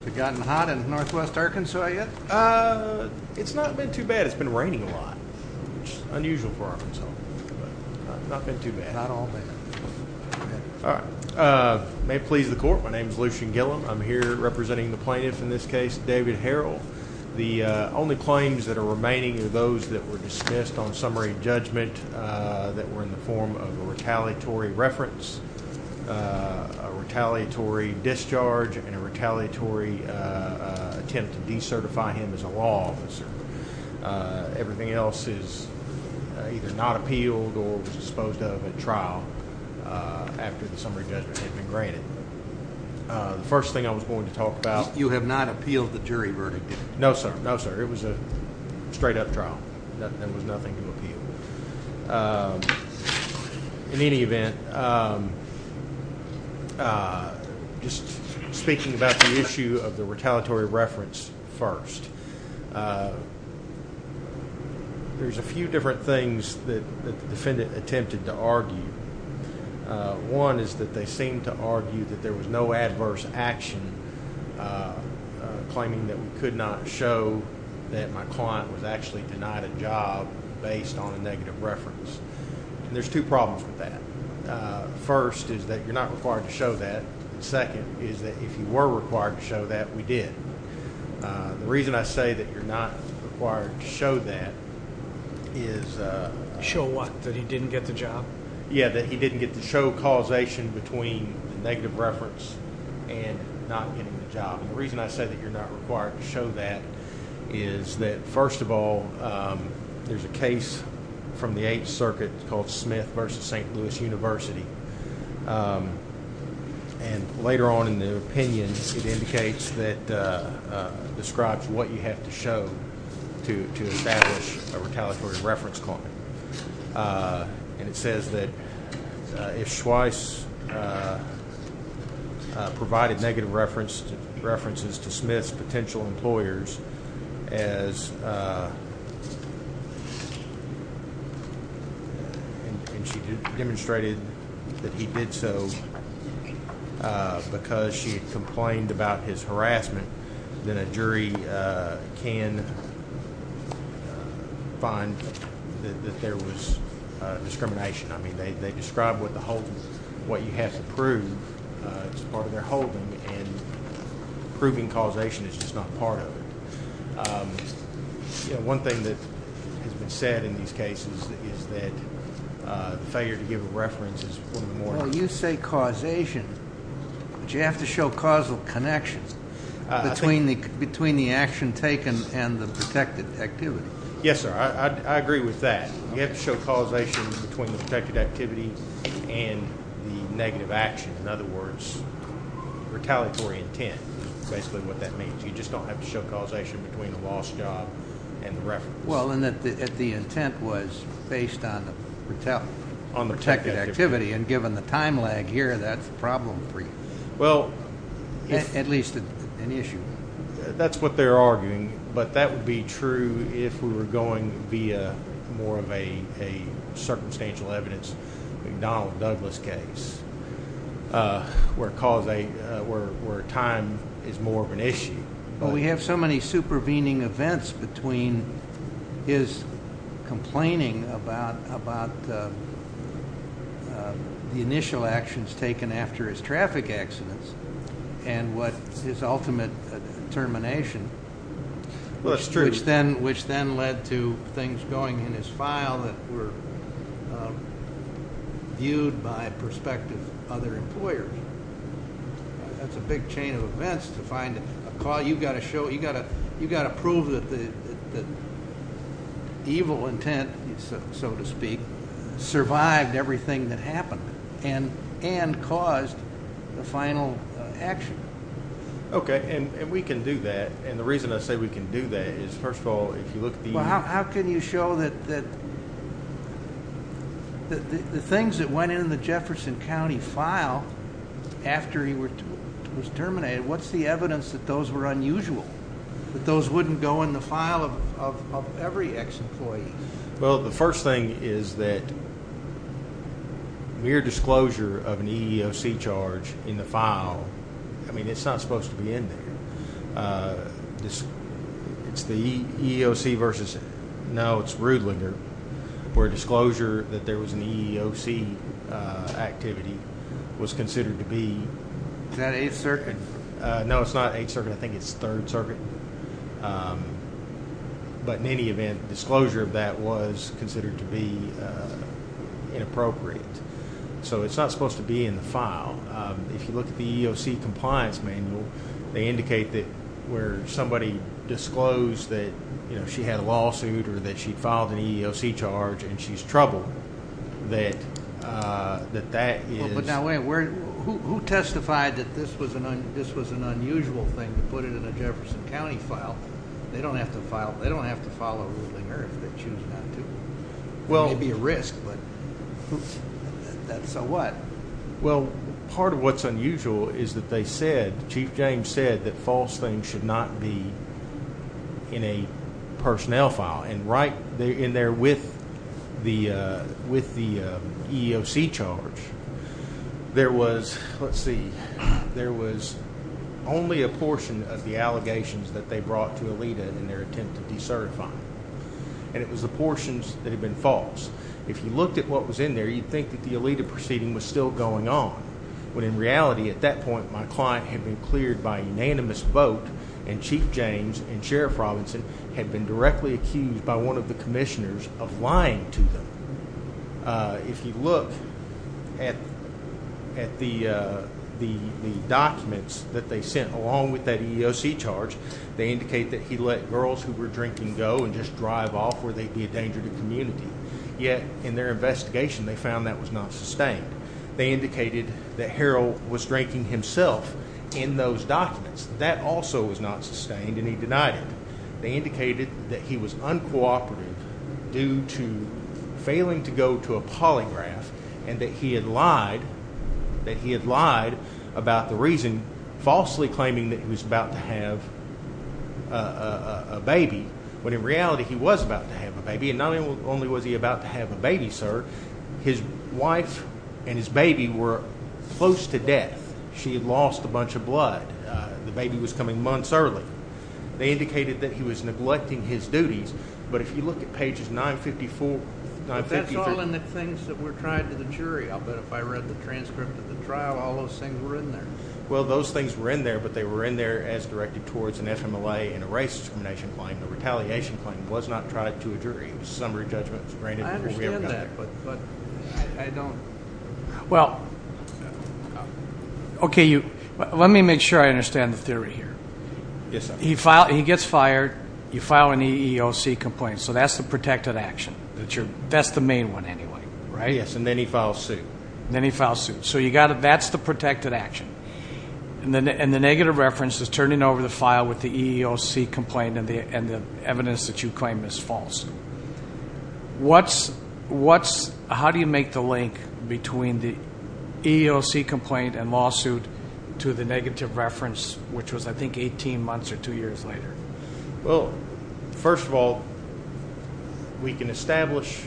Have it gotten hot in Northwest Arkansas yet? Uh, it's not been too bad. It's been raining a lot, which is unusual for Arkansas, but it's not been too bad. Not all bad. All right. May it please the court, my name is Lucian Gillam. I'm here representing the plaintiff in this case, David Harrell. The only claims that are remaining are those that were dismissed on summary judgment that were in the form of a retaliatory reference, a retaliatory discharge, and a retaliatory attempt to decertify him as a law officer. Everything else is either not appealed or disposed of at trial after the summary judgment had been granted. The first thing I was going to talk about... You have not appealed the jury verdict? No, sir. No, sir. It was a straight up trial. There was nothing to appeal. In any event, just speaking about the issue of the retaliatory reference first, there's a few different things that the defendant attempted to argue. One is that they seemed to argue that there was no adverse action, claiming that we could not show that my client was actually denied a job based on a negative reference. There's two problems with that. First is that you're not required to show that. Second is that if you were required to show that, we did. The reason I say that you're not required to show that is... Show what? That he didn't get the job? Yeah, that he didn't get the show causation between the negative reference and not getting the job. The reason I say that you're not required to show that is that, first of all, there's a case from the Eighth Circuit called Smith v. St. Louis University. Later on in the opinion, it indicates that... describes what you have to show to establish a retaliatory reference claim. And it says that if Schweiss provided negative references to Smith's potential employers as... and she demonstrated that he did so because she complained about his harassment, then a jury can find that there was discrimination. I mean, they describe what you have to prove as part of their holding, and proving causation is just not part of it. One thing that has been said in these cases is that failure to give a reference is one of the more... between the action taken and the protected activity. Yes, sir. I agree with that. You have to show causation between the protected activity and the negative action. In other words, retaliatory intent is basically what that means. You just don't have to show causation between the lost job and the reference. Well, and that the intent was based on the protected activity, and given the time lag here, that's problem-free. At least an issue. That's what they're arguing, but that would be true if we were going via more of a circumstantial evidence, McDonald-Douglas case, where time is more of an issue. Well, we have so many supervening events between his complaining about the initial actions taken after his traffic accidents and his ultimate termination. Well, that's true. Which then led to things going in his file that were viewed by prospective other employers. That's a big chain of events to find a call. You've got to prove that the evil intent, so to speak, survived everything that happened. And caused the final action. Okay, and we can do that. And the reason I say we can do that is, first of all, if you look at the— Well, how can you show that the things that went in the Jefferson County file after he was terminated, what's the evidence that those were unusual? That those wouldn't go in the file of every ex-employee? Well, the first thing is that mere disclosure of an EEOC charge in the file, I mean, it's not supposed to be in there. It's the EEOC versus—no, it's Rudlinger, where disclosure that there was an EEOC activity was considered to be— Is that 8th Circuit? No, it's not 8th Circuit. I think it's 3rd Circuit. But in any event, disclosure of that was considered to be inappropriate. So it's not supposed to be in the file. If you look at the EEOC compliance manual, they indicate that where somebody disclosed that she had a lawsuit or that she filed an EEOC charge and she's troubled, that that is— They don't have to file a Rudlinger if they're choosing not to. It may be a risk, but so what? Well, part of what's unusual is that they said, Chief James said that false things should not be in a personnel file. And right in there with the EEOC charge, there was—let's see. There was only a portion of the allegations that they brought to ELITA in their attempt to decertify. And it was the portions that had been false. If you looked at what was in there, you'd think that the ELITA proceeding was still going on, when in reality, at that point, my client had been cleared by unanimous vote and Chief James and Sheriff Robinson had been directly accused by one of the commissioners of lying to them. If you look at the documents that they sent along with that EEOC charge, they indicate that he let girls who were drinking go and just drive off where they'd be a danger to the community. Yet in their investigation, they found that was not sustained. They indicated that Harold was drinking himself in those documents. That also was not sustained, and he denied it. They indicated that he was uncooperative due to failing to go to a polygraph and that he had lied about the reason, falsely claiming that he was about to have a baby. When in reality, he was about to have a baby, and not only was he about to have a baby, sir, his wife and his baby were close to death. She had lost a bunch of blood. The baby was coming months early. They indicated that he was neglecting his duties, but if you look at pages 954, 953. But that's all in the things that were tried to the jury. I'll bet if I read the transcript of the trial, all those things were in there. Well, those things were in there, but they were in there as directed towards an FMLA and a race discrimination claim. The retaliation claim was not tried to a jury. It was a summary judgment. I understand that, but I don't. Well, okay, let me make sure I understand the theory here. Yes, sir. He gets fired. You file an EEOC complaint, so that's the protected action. That's the main one anyway, right? Yes, and then he files suit. Then he files suit. So that's the protected action. And the negative reference is turning over the file with the EEOC complaint and the evidence that you claim is false. How do you make the link between the EEOC complaint and lawsuit to the negative reference, which was, I think, 18 months or two years later? Well, first of all, we can establish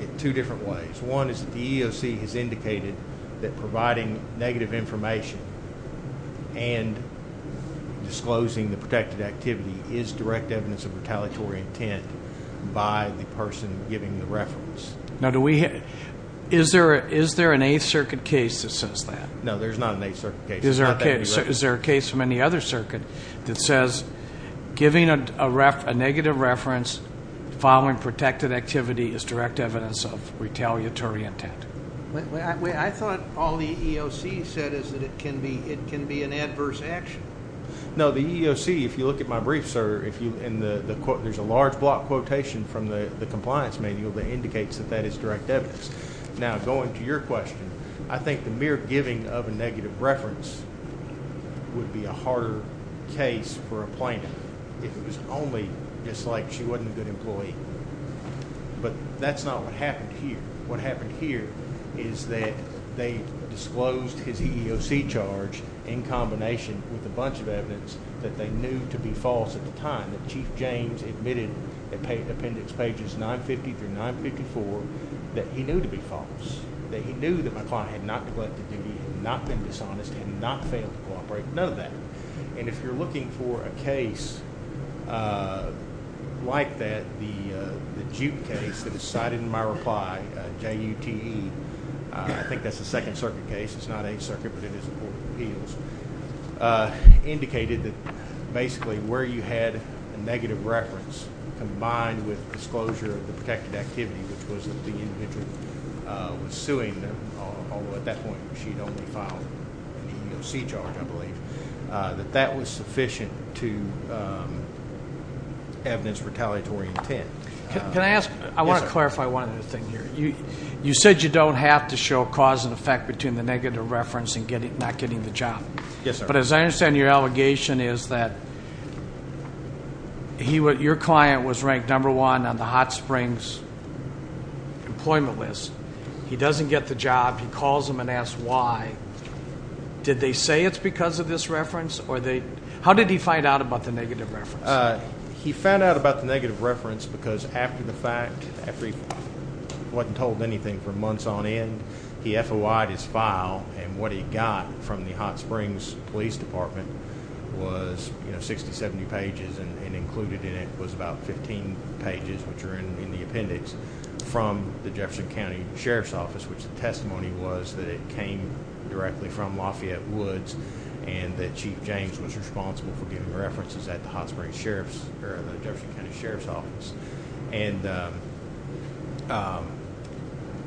it two different ways. One is that the EEOC has indicated that providing negative information and disclosing the protected activity is direct evidence of retaliatory intent by the person giving the reference. Now, is there an Eighth Circuit case that says that? No, there's not an Eighth Circuit case. Is there a case from any other circuit that says giving a negative reference following protected activity is direct evidence of retaliatory intent? I thought all the EEOC said is that it can be an adverse action. No, the EEOC, if you look at my brief, sir, there's a large block quotation from the compliance manual that indicates that that is direct evidence. Now, going to your question, I think the mere giving of a negative reference would be a harder case for a plaintiff if it was only just like she wasn't a good employee. But that's not what happened here. What happened here is that they disclosed his EEOC charge in combination with a bunch of evidence that they knew to be false at the time, that Chief James admitted, appendix pages 950 through 954, that he knew to be false, that he knew that my client had not neglected duty, had not been dishonest, had not failed to cooperate, none of that. And if you're looking for a case like that, the Duke case that was cited in my reply, J-U-T-E, I think that's the Second Circuit case, it's not Eighth Circuit, but it is the Court of Appeals, indicated that basically where you had a negative reference combined with disclosure of the protected activity, which was that the individual was suing, although at that point she had only filed an EEOC charge, I believe, that that was sufficient to evidence retaliatory intent. Can I ask? Yes, sir. I want to clarify one other thing here. You said you don't have to show cause and effect between the negative reference and not getting the job. Yes, sir. But as I understand your allegation is that your client was ranked number one on the Hot Springs employment list. He doesn't get the job. He calls them and asks why. Did they say it's because of this reference? How did he find out about the negative reference? He found out about the negative reference because after the fact, after he wasn't told anything for months on end, he FOI'd his file, and what he got from the Hot Springs Police Department was 60, 70 pages, and included in it was about 15 pages, which are in the appendix, from the Jefferson County Sheriff's Office, which the testimony was that it came directly from Lafayette Woods and that Chief James was responsible for giving references at the Jefferson County Sheriff's Office. And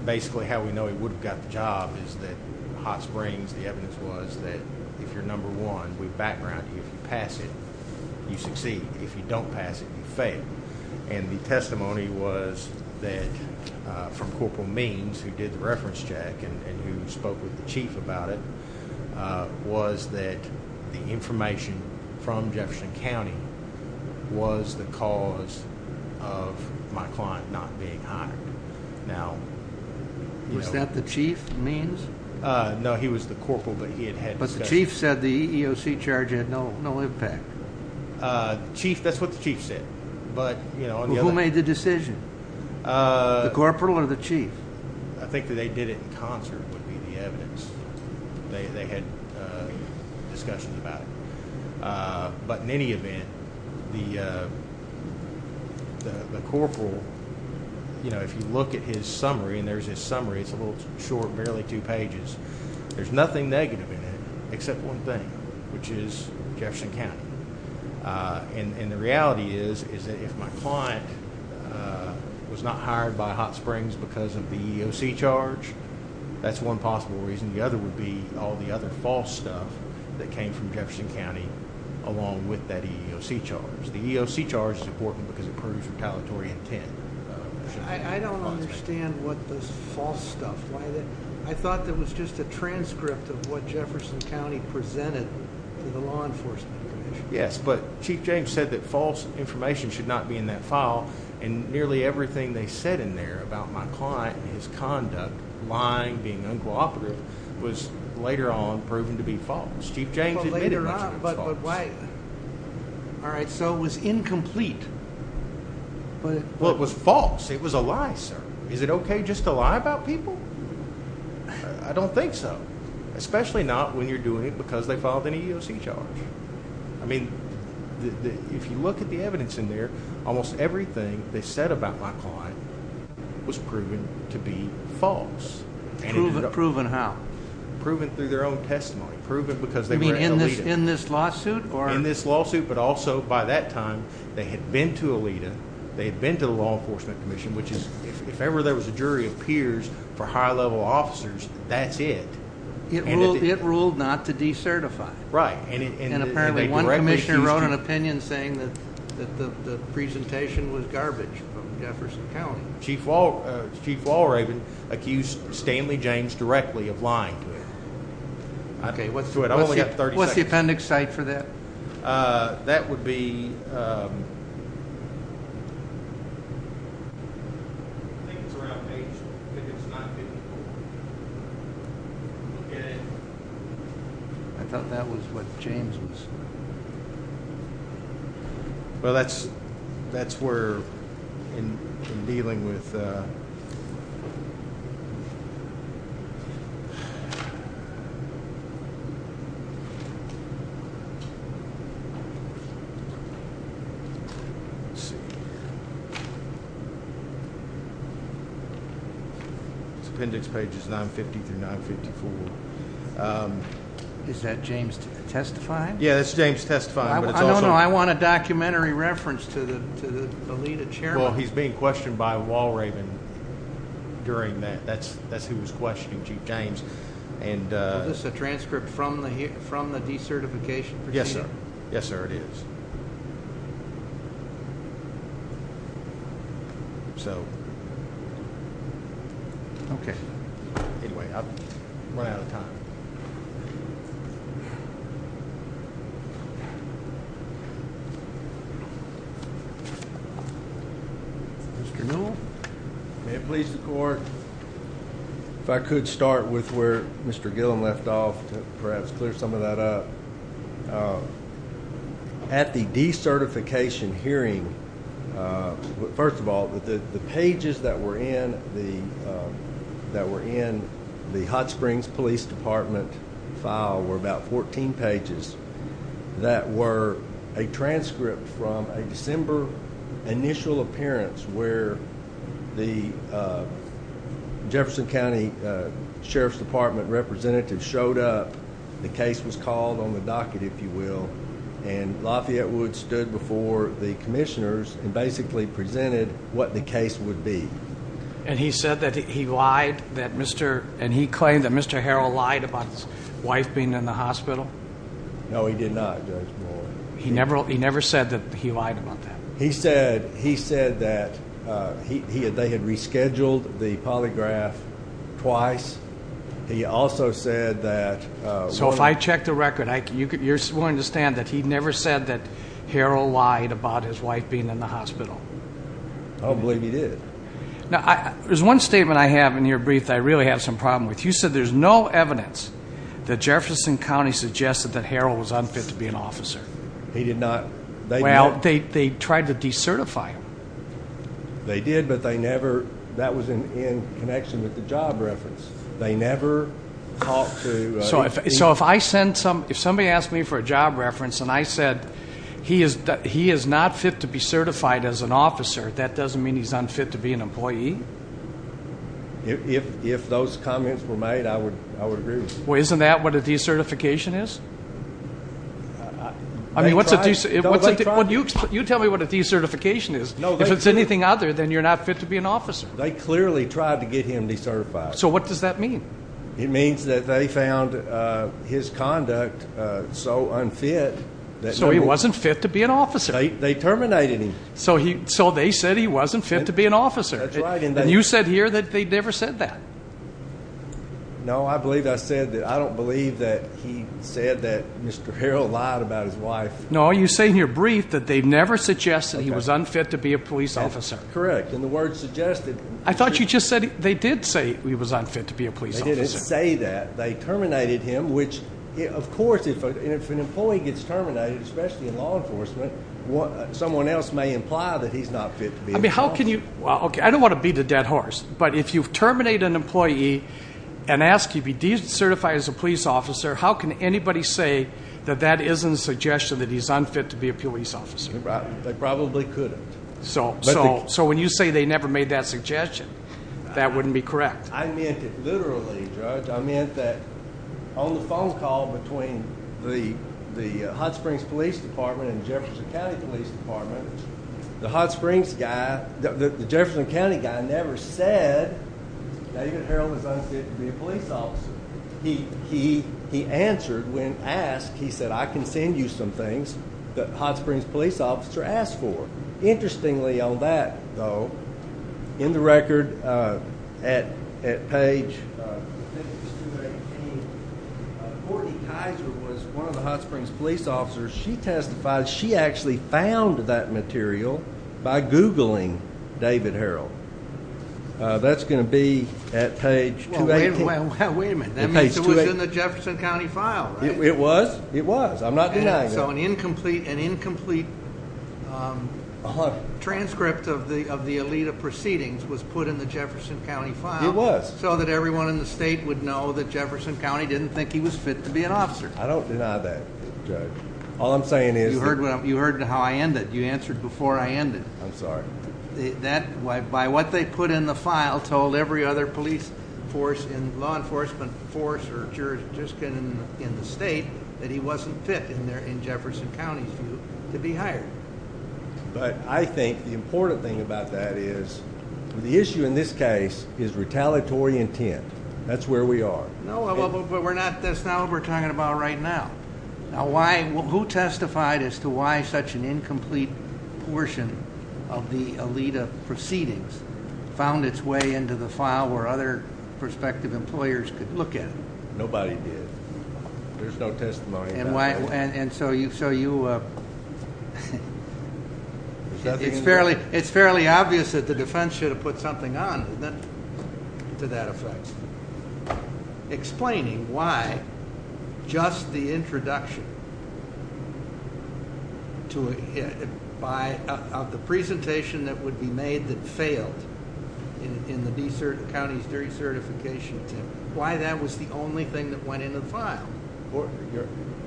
basically how we know he would have got the job is that Hot Springs, the evidence was that if you're number one, we background you. If you pass it, you succeed. If you don't pass it, you fail. And the testimony was that from Corporal Means, who did the reference check and who spoke with the chief about it, was that the information from Jefferson County was the cause of my client not being hired. Was that the chief, Means? No, he was the corporal, but he had had discussions. But the chief said the EEOC charge had no impact. Chief, that's what the chief said. Who made the decision? The corporal or the chief? I think that they did it in concert would be the evidence. They had discussions about it. But in any event, the corporal, if you look at his summary, and there's his summary, it's a little short, barely two pages. There's nothing negative in it except one thing, which is Jefferson County. And the reality is that if my client was not hired by Hot Springs because of the EEOC charge, that's one possible reason. The other would be all the other false stuff that came from Jefferson County along with that EEOC charge. The EEOC charge is important because it proves retaliatory intent. I don't understand what this false stuff. I thought there was just a transcript of what Jefferson County presented to the Law Enforcement Commission. Yes, but Chief James said that false information should not be in that file, and nearly everything they said in there about my client and his conduct, lying, being uncooperative, was later on proven to be false. Chief James admitted that it was false. But why? All right, so it was incomplete. Well, it was false. It was a lie, sir. Is it okay just to lie about people? I don't think so, especially not when you're doing it because they filed an EEOC charge. I mean, if you look at the evidence in there, almost everything they said about my client was proven to be false. Proven how? Proven through their own testimony. Proven because they were at Alita. You mean in this lawsuit? In this lawsuit, but also by that time they had been to Alita, they had been to the Law Enforcement Commission, which is if ever there was a jury of peers for high-level officers, that's it. It ruled not to decertify. Right. And apparently one commissioner wrote an opinion saying that the presentation was garbage from Jefferson County. Chief Walraven accused Stanley James directly of lying to him. Okay, what's the appendix cite for that? That would be ‑‑ I think it's around page ‑‑ I thought that was what James was saying. Well, that's where in dealing with ‑‑ It's appendix pages 950 through 954. Is that James testifying? Yeah, that's James testifying. No, no, I want a documentary reference to the Alita chair. Well, he's being questioned by Walraven during that. That's who was questioning Chief James. Is this a transcript from the decertification? Yes, sir. Yes, sir, it is. So, okay. Anyway, I'm running out of time. Mr. Newell, may it please the court, if I could start with where Mr. Gillen left off to perhaps clear some of that up. At the decertification hearing, first of all, the pages that were in the Hot Springs Police Department file were about 14 pages that were a transcript from a December initial appearance where the Jefferson County Sheriff's Department representative showed up. The case was called on the docket, if you will, and Lafayette Wood stood before the commissioners and basically presented what the case would be. And he claimed that Mr. Harrell lied about his wife being in the hospital? No, he did not, Judge Boyd. He never said that he lied about that? He said that they had rescheduled the polygraph twice. He also said that we were going to have to do it again. So if I check the record, you're willing to stand that he never said that Harrell lied about his wife being in the hospital? I don't believe he did. Now, there's one statement I have in your brief that I really have some problem with. You said there's no evidence that Jefferson County suggested that Harrell was unfit to be an officer. He did not. Well, they tried to decertify him. They did, but that was in connection with the job reference. They never talked to him. So if somebody asked me for a job reference and I said he is not fit to be certified as an officer, that doesn't mean he's unfit to be an employee? If those comments were made, I would agree with you. Well, isn't that what a decertification is? You tell me what a decertification is. If it's anything other than you're not fit to be an officer. They clearly tried to get him decertified. So what does that mean? It means that they found his conduct so unfit. So he wasn't fit to be an officer. They terminated him. So they said he wasn't fit to be an officer. That's right. And you said here that they never said that. No, I believe I said that. I don't believe that he said that Mr. Harrell lied about his wife. No, you say in your brief that they never suggested he was unfit to be a police officer. Correct. And the word suggested. I thought you just said they did say he was unfit to be a police officer. They didn't say that. They terminated him, which, of course, if an employee gets terminated, especially in law enforcement, someone else may imply that he's not fit to be an officer. I mean, how can you? Okay, I don't want to beat a dead horse. But if you terminate an employee and ask if he's decertified as a police officer, how can anybody say that that isn't a suggestion that he's unfit to be a police officer? They probably couldn't. So when you say they never made that suggestion, that wouldn't be correct. I meant it literally, Judge. I meant that on the phone call between the Hot Springs Police Department and the Jefferson County Police Department, the Hot Springs guy, the Jefferson County guy, never said David Harrell is unfit to be a police officer. He answered when asked. He said, I can send you some things that the Hot Springs police officer asked for. Interestingly on that, though, in the record at page 218, Courtney Kaiser was one of the Hot Springs police officers. She testified. She actually found that material by Googling David Harrell. That's going to be at page 280. Wait a minute. That means it was in the Jefferson County file, right? It was. It was. I'm not denying that. So an incomplete transcript of the Alita proceedings was put in the Jefferson County file. It was. I don't deny that, Judge. All I'm saying is that. You heard how I ended. You answered before I ended. I'm sorry. That, by what they put in the file, told every other police force and law enforcement force or jurisdiction in the state that he wasn't fit in Jefferson County's view to be hired. But I think the important thing about that is the issue in this case is retaliatory intent. That's where we are. No, but we're not. That's not what we're talking about right now. Now, who testified as to why such an incomplete portion of the Alita proceedings found its way into the file where other prospective employers could look at it? Nobody did. There's no testimony. And so you. It's fairly obvious that the defense should have put something on to that effect. Explaining why just the introduction to it by the presentation that would be made that failed in the desert counties during certification, why that was the only thing that went into the file.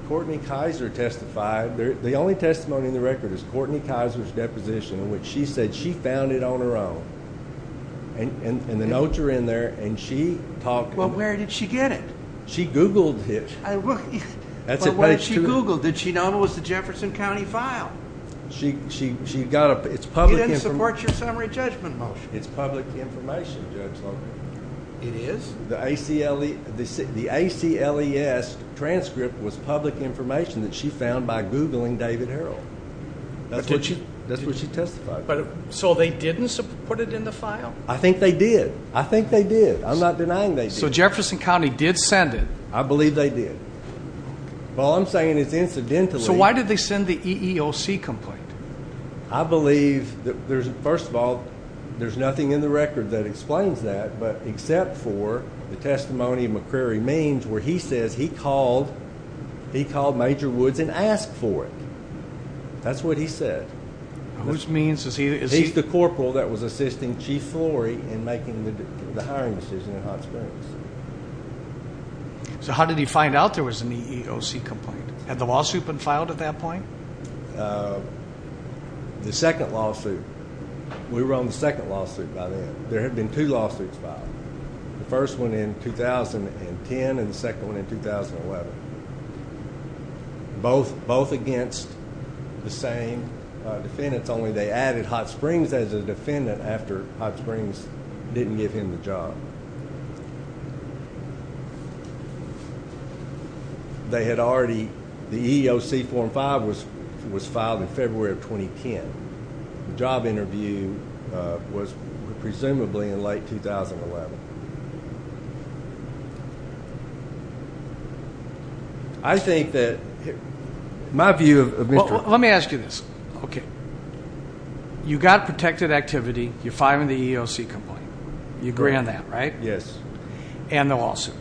Courtney Kaiser testified. The only testimony in the record is Courtney Kaiser's deposition, which she said she found it on her own. And the notes are in there, and she talked. Well, where did she get it? She Googled it. But what did she Google? Did she know it was the Jefferson County file? She got it. It's public information. It didn't support your summary judgment motion. It's public information, Judge Long. It is? The ACLES transcript was public information that she found by Googling David Harrell. That's what she testified. So they didn't put it in the file? I think they did. I think they did. I'm not denying they did. So Jefferson County did send it? I believe they did. All I'm saying is incidentally. So why did they send the EEOC complaint? I believe, first of all, there's nothing in the record that explains that, except for the testimony of McCrary Means where he says he called Major Woods and asked for it. That's what he said. Who's Means? He's the corporal that was assisting Chief Florey in making the hiring decision in Hot Springs. So how did he find out there was an EEOC complaint? Had the lawsuit been filed at that point? The second lawsuit. We were on the second lawsuit by then. There had been two lawsuits filed, the first one in 2010 and the second one in 2011, both against the same defendants, only they added Hot Springs as a defendant after Hot Springs didn't give him the job. They had already, the EEOC form 5 was filed in February of 2010. The job interview was presumably in late 2011. I think that my view of Mr. Let me ask you this. Okay. You got protected activity. You're filing the EEOC complaint. You agree on that, right? Yes. And the lawsuit.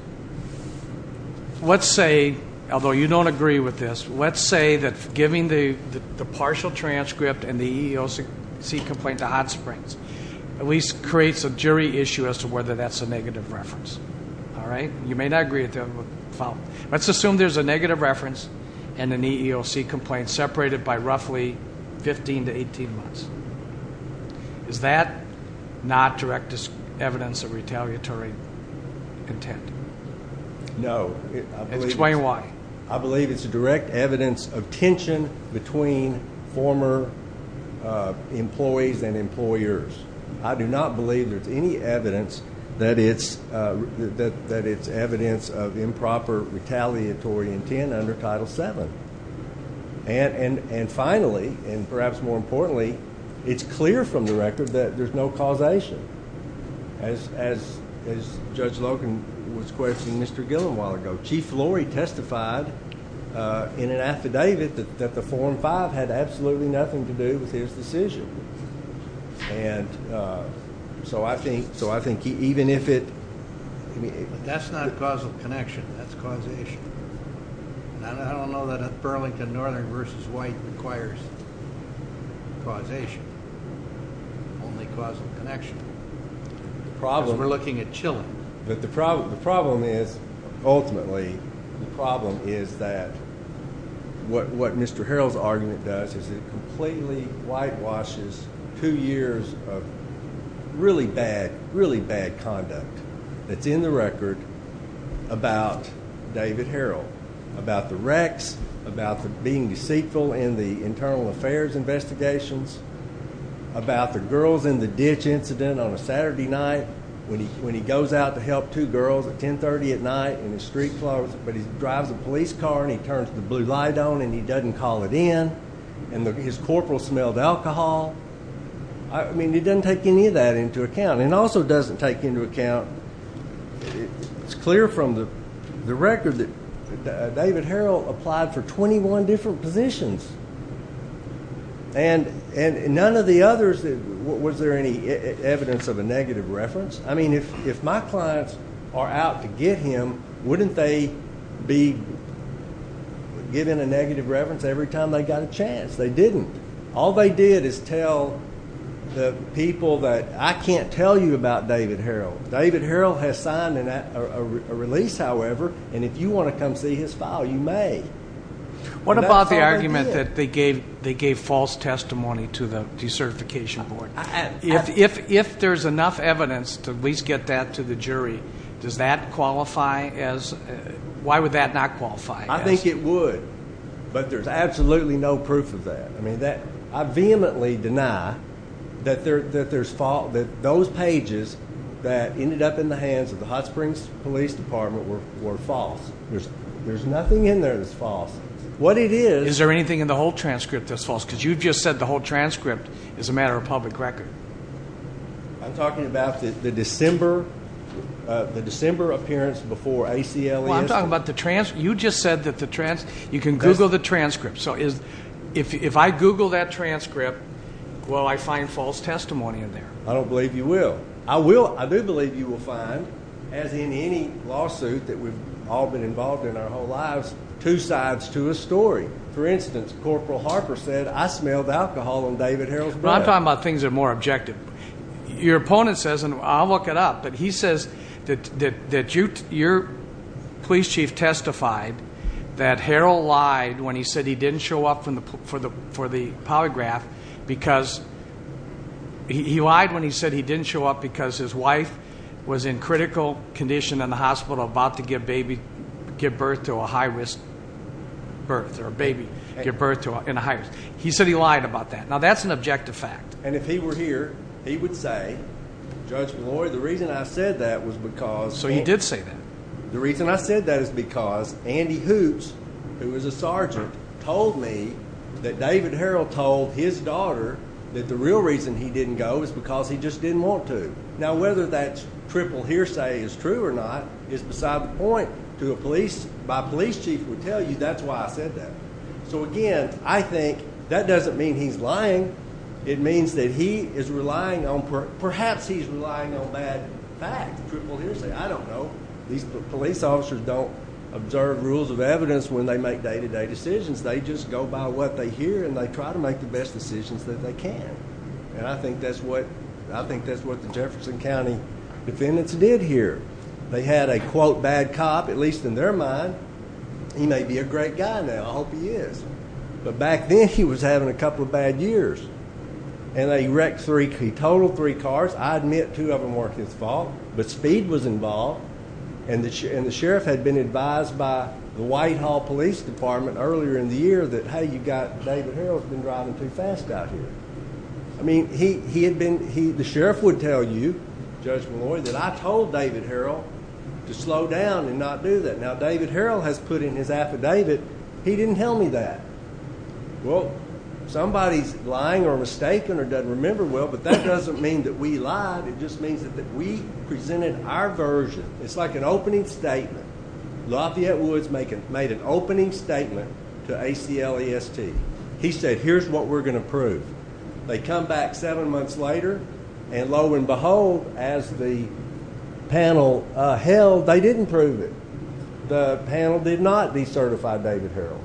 Let's say, although you don't agree with this, let's say that giving the partial transcript and the EEOC complaint to Hot Springs at least creates a jury issue as to whether that's a negative reference. All right? You may not agree with the following. Let's assume there's a negative reference and an EEOC complaint separated by roughly 15 to 18 months. Is that not direct evidence of retaliatory intent? No. Explain why. I believe it's direct evidence of tension between former employees and employers. I do not believe there's any evidence that it's evidence of improper retaliatory intent under Title VII. And finally, and perhaps more importantly, it's clear from the record that there's no causation. As Judge Logan was quoting Mr. Gillen a while ago, Chief Lorry testified in an affidavit that the form five had absolutely nothing to do with his decision. And so I think even if it – That's not causal connection. That's causation. And I don't know that Burlington Northern v. White requires causation. Only causal connection. Because we're looking at Gillen. But the problem is, ultimately, the problem is that what Mr. Harrell's argument does is it completely whitewashes two years of really bad, really bad conduct that's in the record about David Harrell, about the wrecks, about being deceitful in the internal affairs investigations, about the girls in the ditch incident on a Saturday night when he goes out to help two girls at 10.30 at night in his street clothes. But he drives a police car and he turns the blue light on and he doesn't call it in. And his corporal smelled alcohol. I mean, he doesn't take any of that into account. And also doesn't take into account it's clear from the record that David Harrell applied for 21 different positions. And none of the others, was there any evidence of a negative reference? I mean, if my clients are out to get him, wouldn't they be given a negative reference every time they got a chance? They didn't. All they did is tell the people that I can't tell you about David Harrell. David Harrell has signed a release, however, and if you want to come see his file, you may. What about the argument that they gave false testimony to the decertification board? If there's enough evidence to at least get that to the jury, does that qualify as ñ why would that not qualify? I think it would. But there's absolutely no proof of that. I mean, I vehemently deny that those pages that ended up in the hands of the Hot Springs Police Department were false. There's nothing in there that's false. What it is ñ Is there anything in the whole transcript that's false? Because you just said the whole transcript is a matter of public record. I'm talking about the December appearance before ACLU. Well, I'm talking about the transcript. You just said that you can Google the transcript. So if I Google that transcript, will I find false testimony in there? I don't believe you will. I do believe you will find, as in any lawsuit that we've all been involved in our whole lives, two sides to a story. For instance, Corporal Harper said, I smelled alcohol on David Harrell's breath. I'm talking about things that are more objective. Your opponent says, and I'll look it up, but he says that your police chief testified that Harrell lied when he said he didn't show up for the polygraph because he lied when he said he didn't show up because his wife was in critical condition in the hospital about to give birth to a high-risk birth or a baby. He said he lied about that. Now, that's an objective fact. And if he were here, he would say, Judge Malloy, the reason I said that was because— So you did say that. The reason I said that is because Andy Hoops, who is a sergeant, told me that David Harrell told his daughter that the real reason he didn't go was because he just didn't want to. Now, whether that triple hearsay is true or not is beside the point. To a police—my police chief would tell you that's why I said that. So, again, I think that doesn't mean he's lying. It means that he is relying on—perhaps he's relying on bad facts, triple hearsay. I don't know. These police officers don't observe rules of evidence when they make day-to-day decisions. They just go by what they hear, and they try to make the best decisions that they can. And I think that's what the Jefferson County defendants did here. They had a, quote, bad cop, at least in their mind. He may be a great guy now. I hope he is. But back then, he was having a couple of bad years. And he wrecked three—he totaled three cars. I admit two of them weren't his fault, but speed was involved. And the sheriff had been advised by the Whitehall Police Department earlier in the year that, hey, you've got—David Harrell's been driving too fast out here. I mean, he had been—the sheriff would tell you, Judge Malloy, that I told David Harrell to slow down and not do that. Now, David Harrell has put in his affidavit. He didn't tell me that. Well, somebody's lying or mistaken or doesn't remember well, but that doesn't mean that we lied. It just means that we presented our version. It's like an opening statement. Lafayette Woods made an opening statement to ACLEST. He said, here's what we're going to prove. They come back seven months later, and lo and behold, as the panel held, they didn't prove it. The panel did not decertify David Harrell.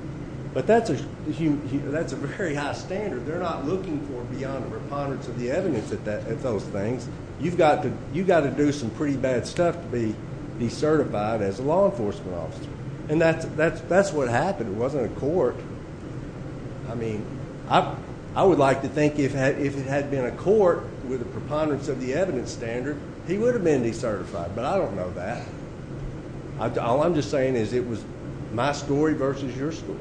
But that's a very high standard. They're not looking for beyond a preponderance of the evidence at those things. You've got to do some pretty bad stuff to be decertified as a law enforcement officer. And that's what happened. It wasn't a court. I mean, I would like to think if it had been a court with a preponderance of the evidence standard, he would have been decertified, but I don't know that. All I'm just saying is it was my story versus your story.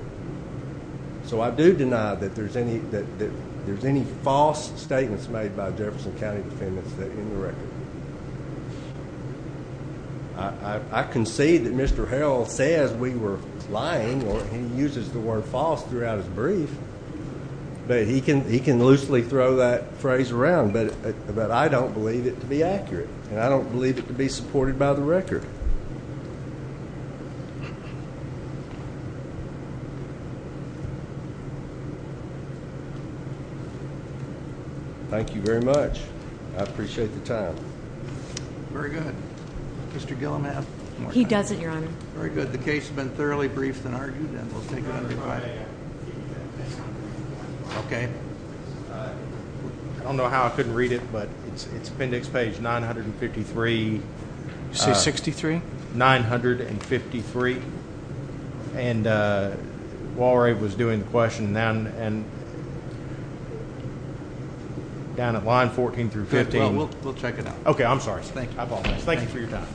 So I do deny that there's any false statements made by Jefferson County defendants in the record. I concede that Mr. Harrell says we were lying, or he uses the word false throughout his brief. But he can loosely throw that phrase around. But I don't believe it to be accurate, and I don't believe it to be supported by the record. Thank you very much. I appreciate the time. Very good. Mr. Gilliland? He doesn't, Your Honor. Very good. The case has been thoroughly briefed and argued, and we'll take it under fire. Okay. I don't know how I couldn't read it, but it's appendix page 953. You say 63? 953. And Walray was doing the question down at line 14 through 15. We'll check it out. Okay, I'm sorry. I apologize. Thank you for your time.